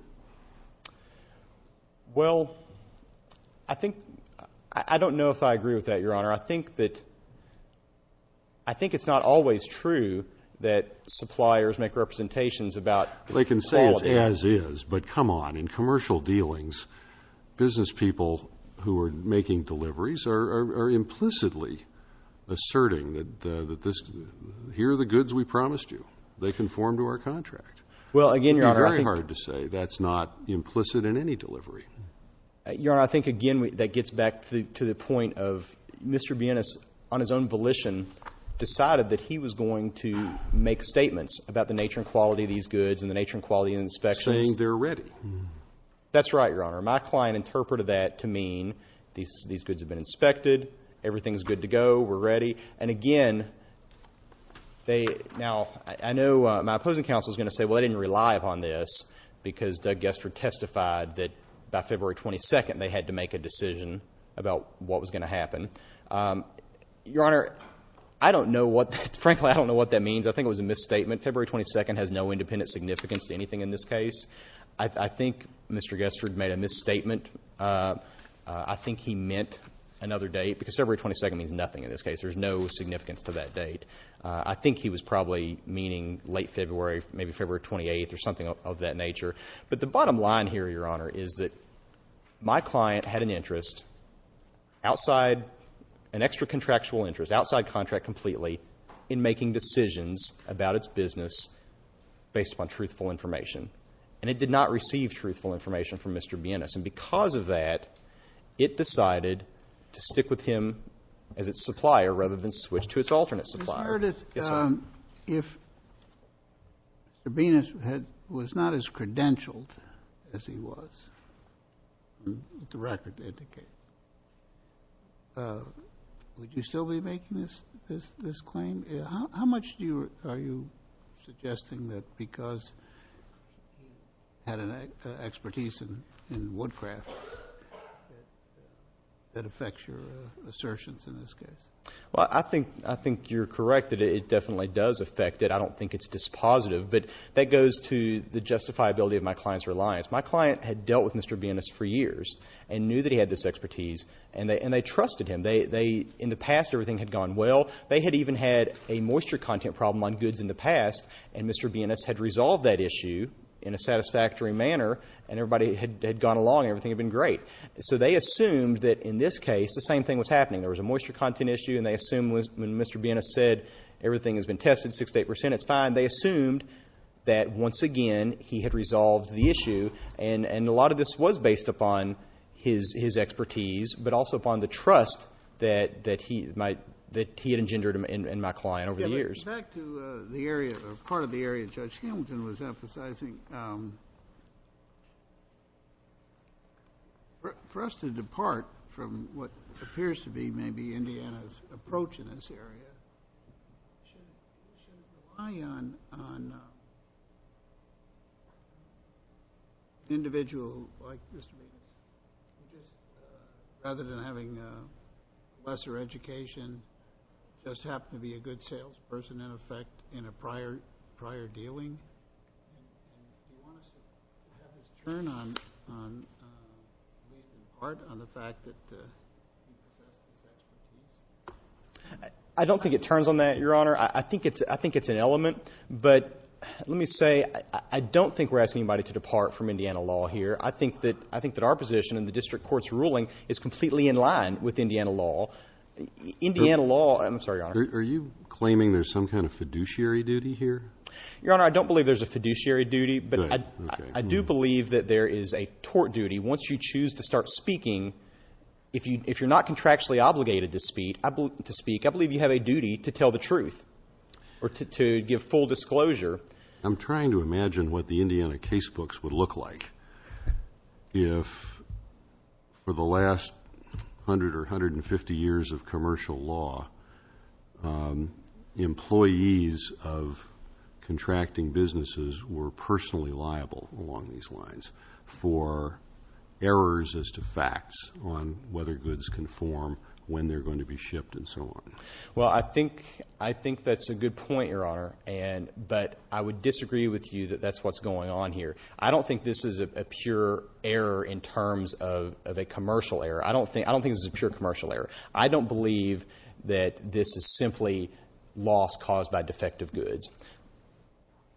Well, I think... I don't know if I agree with that, Your Honor. I think that... I think it's not always true that suppliers make representations about quality. They can say it's as is, but come on. In commercial dealings, business people who are making deliveries are implicitly asserting that this... Here are the goods we promised you. They conform to our contract. Well, again, Your Honor, I think... It would be very hard to say that's not implicit in any delivery. Your Honor, I think, again, that gets back to the point of Mr. Beneson, on his own volition, decided that he was going to make statements about the nature and quality of these goods and the nature and quality of the inspections. Saying they're ready. That's right, Your Honor. My client interpreted that to mean these goods have been inspected. Everything's good to go. We're ready. And, again, they... Now, I know my opposing counsel is going to say, well, they didn't rely upon this because Doug Guestard testified that by February 22nd, they had to make a decision about what was going to happen. Your Honor, I don't know what that... Frankly, I don't know what that means. I think it was a misstatement. February 22nd has no independent significance to anything in this case. I think Mr. Guestard made a misstatement. I think he meant another date, because February 22nd means nothing in this case. There's no significance to that date. I think he was probably meaning late February, maybe February 28th, or something of that nature. But the bottom line here, Your Honor, is that my client had an interest outside an extra-contractual interest, outside contract completely, in making decisions about its business based upon truthful information. And it did not receive truthful information from Mr. Beneson. And because of that, it decided to stick with him as its supplier rather than switch to its alternate supplier. Mr. Curtis, if Mr. Beneson was not as credentialed as he was, the record indicates, would you still be making this claim? How much are you suggesting that because you had an expertise in woodcraft that affects your assertions in this case? Well, I think you're correct that it definitely does affect it. I don't think it's dispositive. But that goes to the justifiability of my client's reliance. My client had dealt with Mr. Benes for years and knew that he had this expertise, and they trusted him. In the past, everything had gone well. They had even had a moisture content problem on goods in the past, and Mr. Benes had resolved that issue in a satisfactory manner, and everybody had gone along, everything had been great. So they assumed that, in this case, the same thing was happening. There was a moisture content issue, and they assumed when Mr. Benes said, everything has been tested, 68%, it's fine, they assumed that, once again, he had resolved the issue. And a lot of this was based upon his expertise, but also upon the trust that he had engendered in my client over the years. Back to the area, or part of the area Judge Hamilton was emphasizing. For us to depart from what appears to be maybe Indiana's approach in this area, should we rely on an individual like this rather than having a lesser education, just happen to be a good salesperson, in effect, in a prior dealing? I don't think it turns on that, Your Honor. I think it's an element, but let me say, I don't think we're asking anybody to depart from Indiana law here. I think that our position in the district court's ruling is completely in line with Indiana law. Indiana law... I'm sorry, Your Honor. Are you claiming there's some kind of fiduciary duty here? Your Honor, I don't believe there's a fiduciary duty, but I do believe that there is a tort duty. Once you choose to start speaking, if you're not contractually obligated to speak, I believe you have a duty to tell the truth, or to give full disclosure. I'm trying to imagine what the Indiana casebooks would look like if, for the last 100 or 150 years of commercial law, employees of contracting businesses were personally liable, along these lines, for errors as to facts on whether goods can form, when they're going to be shipped, and so on. Well, I think that's a good point, Your Honor, but I would disagree with you that that's what's going on here. I don't think this is a pure error in terms of a commercial error. I don't think this is a pure commercial error. I don't believe that this is simply loss caused by defective goods.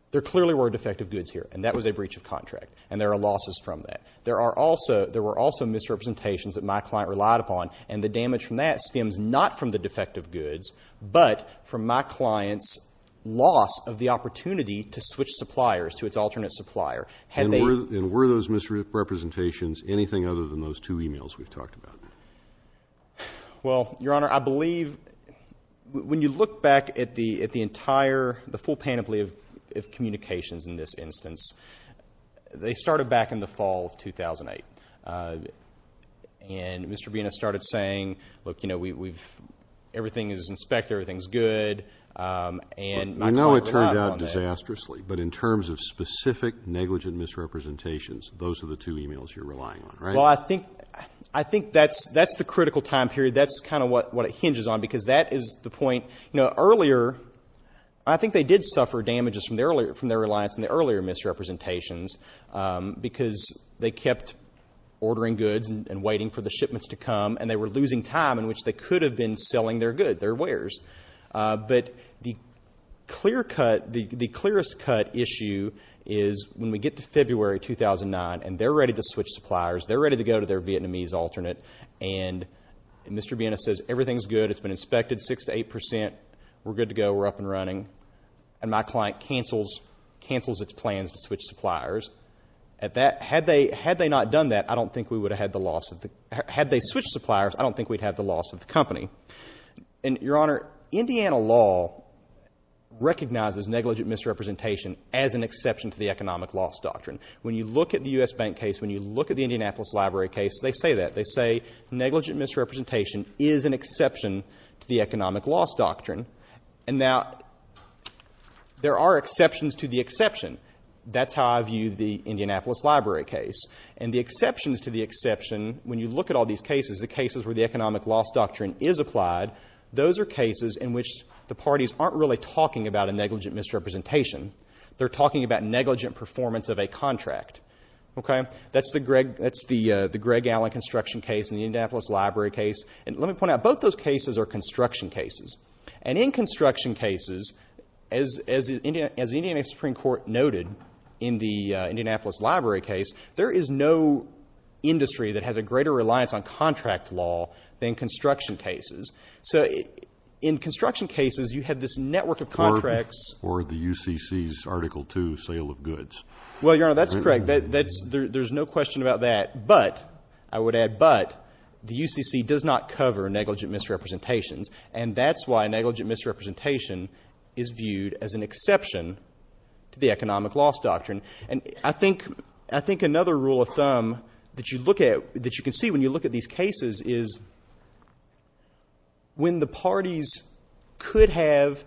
There clearly were defective goods here, and that was a breach of contract, and there are losses from that. There were also misrepresentations that my client relied upon, and the damage from that stems not from the defective goods, but from my client's loss of the opportunity to switch suppliers to its alternate supplier. And were those misrepresentations anything other than those two e-mails we've talked about? Well, Your Honor, I believe, when you look back at the entire, the full panoply of communications in this instance, they started back in the fall of 2008, and Mr. Benis started saying, look, you know, everything is inspected, everything's good, and my client relied on that. Not disastrously, but in terms of specific negligent misrepresentations, those are the two e-mails you're relying on, right? Well, I think that's the critical time period. That's kind of what it hinges on, because that is the point. You know, earlier, I think they did suffer damages from their reliance on the earlier misrepresentations, because they kept ordering goods and waiting for the shipments to come, and they were losing time in which they could have been selling their goods, their wares. But the clearest cut issue is when we get to February 2009, and they're ready to switch suppliers, they're ready to go to their Vietnamese alternate, and Mr. Benis says, everything's good, it's been inspected, 6% to 8%, we're good to go, we're up and running, and my client cancels its plans to switch suppliers. Had they not done that, I don't think we would have had the loss of the... Had they switched suppliers, I don't think we'd have the loss of the company. And, Your Honor, Indiana law recognizes negligent misrepresentation as an exception to the economic loss doctrine. When you look at the U.S. Bank case, when you look at the Indianapolis Library case, they say that. They say, negligent misrepresentation is an exception to the economic loss doctrine. And now, there are exceptions to the exception. That's how I view the Indianapolis Library case. And the exceptions to the exception, when you look at all these cases, the cases where the economic loss doctrine is applied, those are cases in which the parties aren't really talking about a negligent misrepresentation. They're talking about negligent performance of a contract. Okay? That's the Greg Allen construction case and the Indianapolis Library case. And let me point out, both those cases are construction cases. And in construction cases, as the Indiana Supreme Court noted in the Indianapolis Library case, there is no industry that has a greater reliance on contract law than construction cases. So in construction cases, you have this network of contracts... Or the UCC's Article II sale of goods. Well, Your Honor, that's correct. There's no question about that. But, I would add, but, the UCC does not cover negligent misrepresentations. And that's why negligent misrepresentation is viewed as an exception to the economic loss doctrine. And I think another rule of thumb that you can see when you look at these cases is when the parties could have,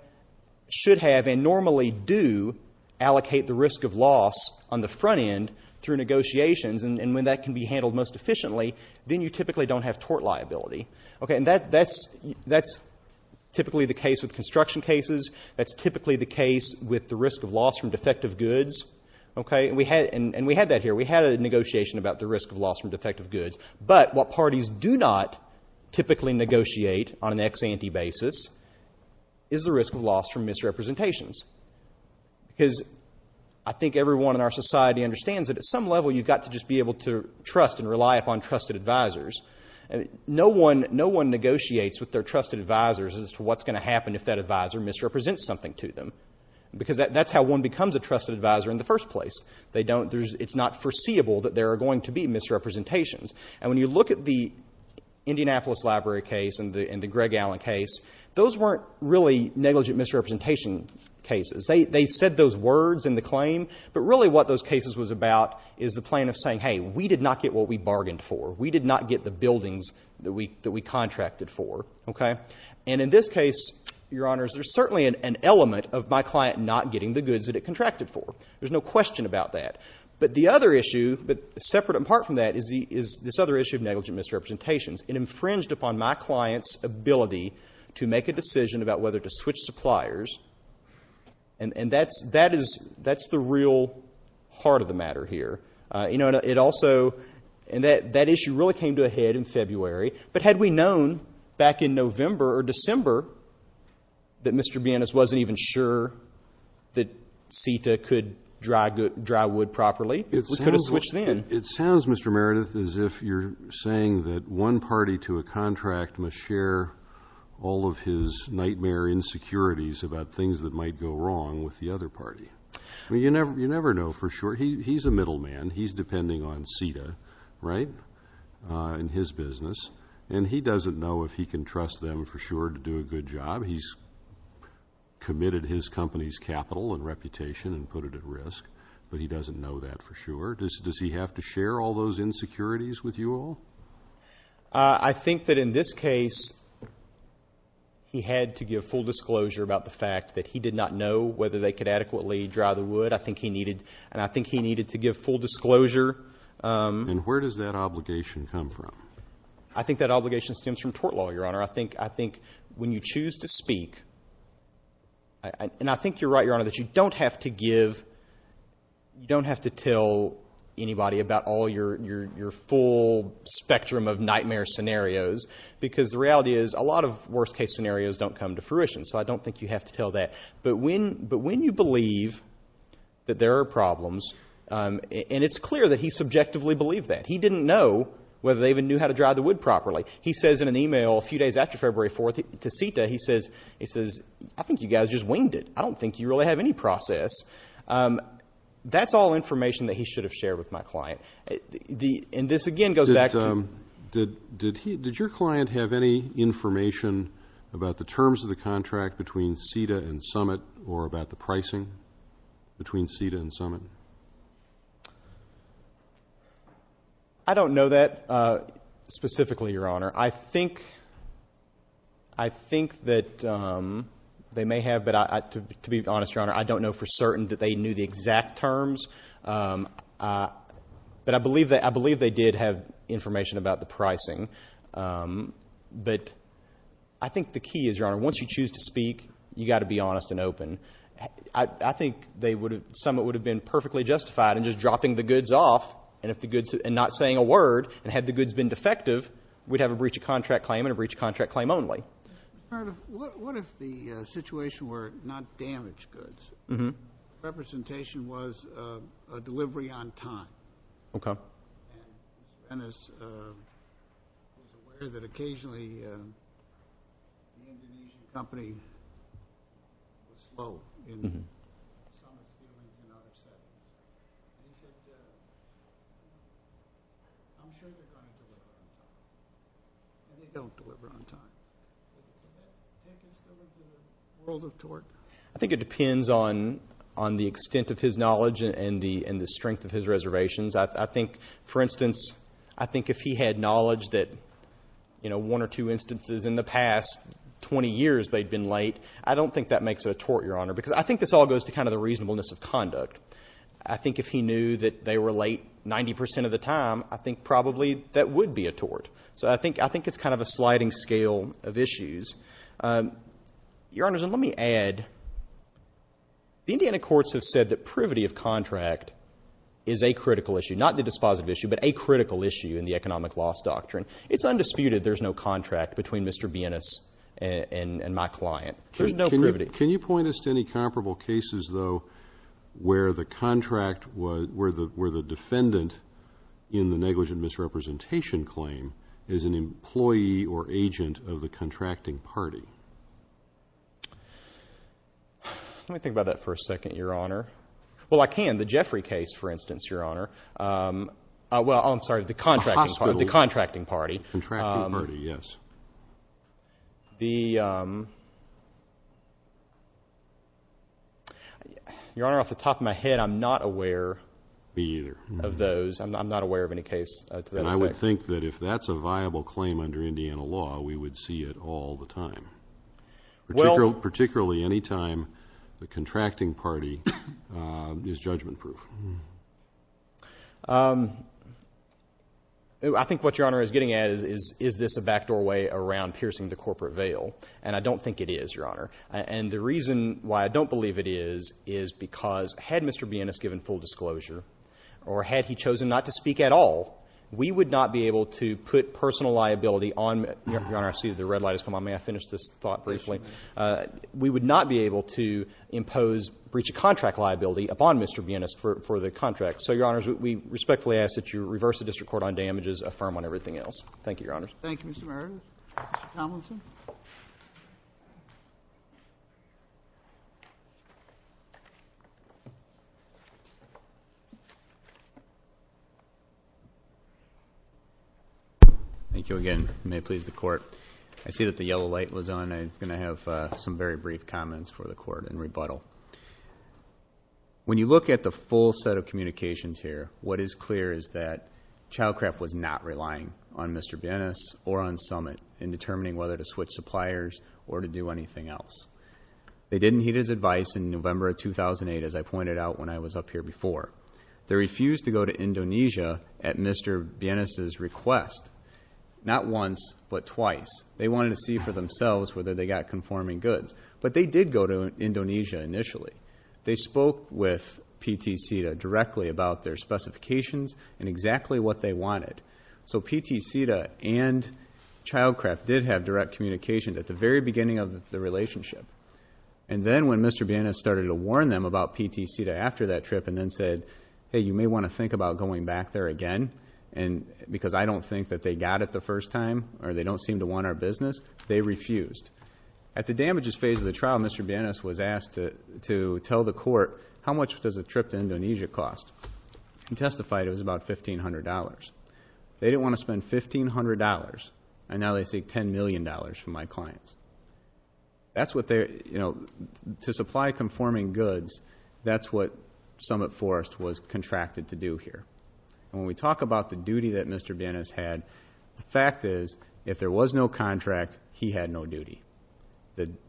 should have, and normally do allocate the risk of loss on the front end through negotiations, and when that can be handled most efficiently, then you typically don't have tort liability. Okay? And that's typically the case with construction cases. That's typically the case with the risk of loss from defective goods. Okay? And we had that here. We had a negotiation about the risk of loss from defective goods. But what parties do not typically negotiate on an ex-ante basis is the risk of loss from misrepresentations. Because I think everyone in our society understands that at some level you've got to just be able to trust and rely upon trusted advisors. No one negotiates with their trusted advisors as to what's going to happen if that advisor misrepresents something to them. Because that's how one becomes a trusted advisor in the first place. They don't... It's not foreseeable that there are going to be misrepresentations. And when you look at the Indianapolis Library case and the Greg Allen case, those weren't really negligent misrepresentation cases. They said those words in the claim, but really what those cases was about is the plan of saying, hey, we did not get what we bargained for. We did not get the buildings that we contracted for. Okay? And in this case, Your Honors, there's certainly an element of my client not getting the goods that it contracted for. There's no question about that. But the other issue, but separate and apart from that, is this other issue of negligent misrepresentations. It infringed upon my client's ability to make a decision about whether to switch suppliers. And that's the real heart of the matter here. It also... And that issue really came to a head in February. But had we known back in November or December that Mr. Bienes wasn't even sure that CETA could dry wood properly, we could have switched then. It sounds, Mr. Meredith, as if you're saying that one party to a contract must share all of his nightmare insecurities about things that might go wrong with the other party. I mean, you never know for sure. He's a middleman. He's depending on CETA, right, in his business. And he doesn't know if he can trust them for sure to do a good job. He's committed his company's capital and reputation and put it at risk, but he doesn't know that for sure. Does he have to share all those insecurities with you all? I think that in this case, he had to give full disclosure about the fact that he did not know whether they could adequately dry the wood. I think he needed to give full disclosure. And where does that obligation come from? I think that obligation stems from tort law, Your Honor. I think when you choose to speak, and I think you're right, Your Honor, that you don't have to give, you don't have to tell anybody about all your full spectrum of nightmare scenarios because the reality is a lot of worst-case scenarios don't come to fruition, so I don't think you have to tell that. But when you believe that there are problems, and it's clear that he subjectively believed that. He didn't know whether they even knew how to dry the wood properly. He says in an e-mail a few days after February 4th to CETA, he says, I think you guys just winged it. I don't think you really have any process. That's all information that he should have shared with my client. And this again goes back to... Did your client have any information about the terms of the contract between CETA and Summit or about the pricing between CETA and Summit? I don't know that specifically, Your Honor. I think that they may have, but to be honest, Your Honor, I don't know for certain that they knew the exact terms. But I believe they did have information about the pricing. But I think the key is, Your Honor, once you choose to speak, you've got to be honest and open. I think Summit would have been perfectly justified in just dropping the goods off and not saying a word. And had the goods been defective, we'd have a breach of contract claim and a breach of contract claim only. What if the situation were not damaged goods? Representation was a delivery on time. Okay. Your Honor is aware that occasionally an Indonesian company is slow in... They don't deliver on time. World of tort. I think it depends on the extent of his knowledge and the strength of his reservations. I think, for instance, I think if he had knowledge that one or two instances in the past 20 years they'd been late, I don't think that makes it a tort, Your Honor, because I think this all goes to kind of the reasonableness of conduct. I think if he knew that they were late 90% of the time, I think probably that would be a tort. So I think it's kind of a sliding scale of issues. Your Honor, let me add, the Indiana courts have said that privity of contract is a critical issue, not the dispositive issue, but a critical issue in the economic loss doctrine. It's undisputed there's no contract between Mr. Bienes and my client. There's no privity. Can you point us to any comparable cases, though, where the contract was, where the defendant in the negligent misrepresentation claim is an employee or agent of the contracting party? Let me think about that for a second, Your Honor. Well, I can. The Jeffrey case, for instance, Your Honor. Well, I'm sorry, the contracting party. The contracting party, yes. The... Your Honor, off the top of my head, I'm not aware... Me either. ...of those. I'm not aware of any case to that effect. And I would think that if that's a viable claim under Indiana law, we would see it all the time. Well... Particularly any time the contracting party is judgment-proof. I think what Your Honor is getting at is is this a back doorway around piercing the corporate veil? And I don't think it is, Your Honor. And the reason why I don't believe it is is because had Mr. Bienes given full disclosure or had he chosen not to speak at all, we would not be able to put personal liability on... Your Honor, I see the red light has come on. May I finish this thought briefly? We would not be able to impose breach of contract liability upon Mr. Bienes for the contract. So, Your Honor, we respectfully ask that you reverse the district court on damages, affirm on everything else. Thank you, Your Honor. Thank you, Mr. Murray. Mr. Tomlinson? Thank you again. May it please the Court. I see that the yellow light was on. I'm going to have some very brief comments for the Court in rebuttal. When you look at the full set of communications here, what is clear is that Childcraft was not relying on Mr. Bienes or on Summit in determining whether to switch suppliers or to do anything else. They didn't heed his advice in November of 2008, as I pointed out when I was up here before. They refused to go to Indonesia at Mr. Bienes' request, not once, but twice. They wanted to see for themselves whether they got conforming goods. But they did go to Indonesia initially. They spoke with PT CETA directly about their specifications and exactly what they wanted. So PT CETA and Childcraft did have direct communication at the very beginning of the relationship. And then when Mr. Bienes started to warn them about PT CETA after that trip and then said, hey, you may want to think about going back there again because I don't think that they got it the first time or they don't seem to want our business, they refused. At the damages phase of the trial, Mr. Bienes was asked to tell the Court how much does a trip to Indonesia cost. He testified it was about $1,500. They didn't want to spend $1,500, and now they seek $10 million from my clients. That's what they're, you know, to supply conforming goods, that's what Summit Forest was contracted to do here. And when we talk about the duty that Mr. Bienes had, the fact is, if there was no contract, he had no duty.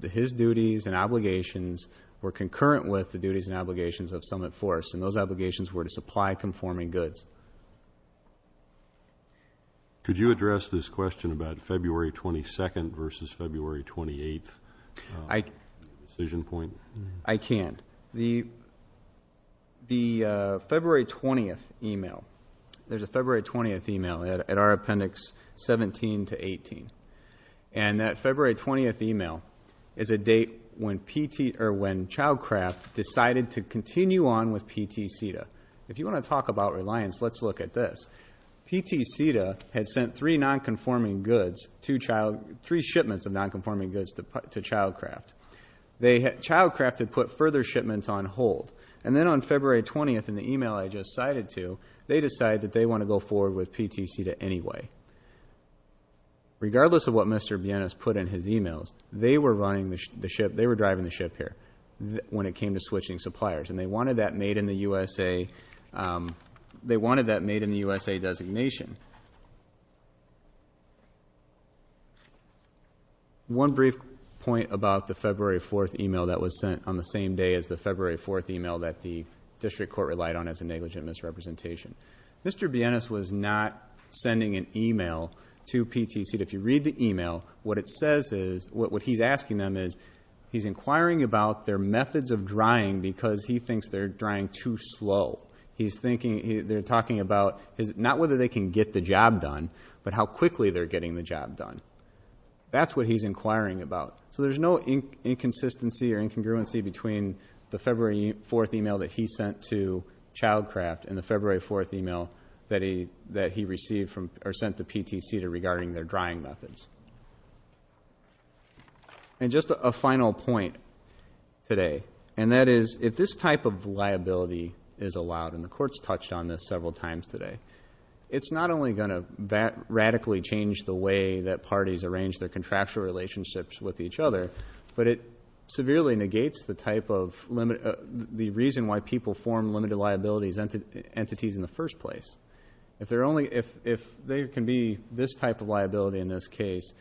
His duties and obligations were concurrent with the duties and obligations of Summit Forest, and those obligations were to supply conforming goods. Could you address this question about February 22nd versus February 28th decision point? I can't. The February 20th e-mail, there's a February 20th e-mail at our appendix 17 to 18, and that February 20th e-mail is a date when Childcraft decided to continue on with PT CETA. If you want to talk about reliance, let's look at this. PT CETA had sent three nonconforming goods, three shipments of nonconforming goods to Childcraft. Childcraft had put further shipments on hold, and then on February 20th, in the e-mail I just cited to, they decide that they want to go forward with PT CETA anyway. Regardless of what Mr. Bienes put in his e-mails, they were running the ship, they were driving the ship here when it came to switching suppliers, and they wanted that made in the USA, they wanted that made in the USA designation. One brief point about the February 4th e-mail that was sent on the same day as the February 4th e-mail that the district court relied on as a negligent misrepresentation. Mr. Bienes was not sending an e-mail to PT CETA. If you read the e-mail, what it says is, what he's asking them is, he's inquiring about their methods of drying because he thinks they're drying too slow. He's thinking, they're talking about, not whether they can get the job done, but how quickly they're getting the job done. That's what he's inquiring about. So there's no inconsistency or incongruency between the February 4th e-mail that he sent to Childcraft and the February 4th e-mail that he received or sent to PT CETA regarding their drying methods. And just a final point today, and that is, if this type of liability is allowed, and the court's touched on this several times today, it's not only going to radically change the way that parties arrange their contractual relationships with each other, but it severely negates the type of limit... the reason why people form limited liabilities entities in the first place. If there can be this type of liability in this case,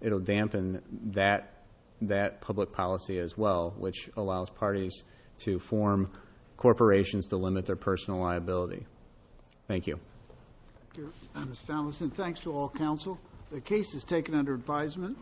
it'll dampen that public policy as well, which allows parties to form corporations to limit their personal liability. Thank you. Thank you, Mr. Fallin. Thanks to all counsel. The case is taken under advisement.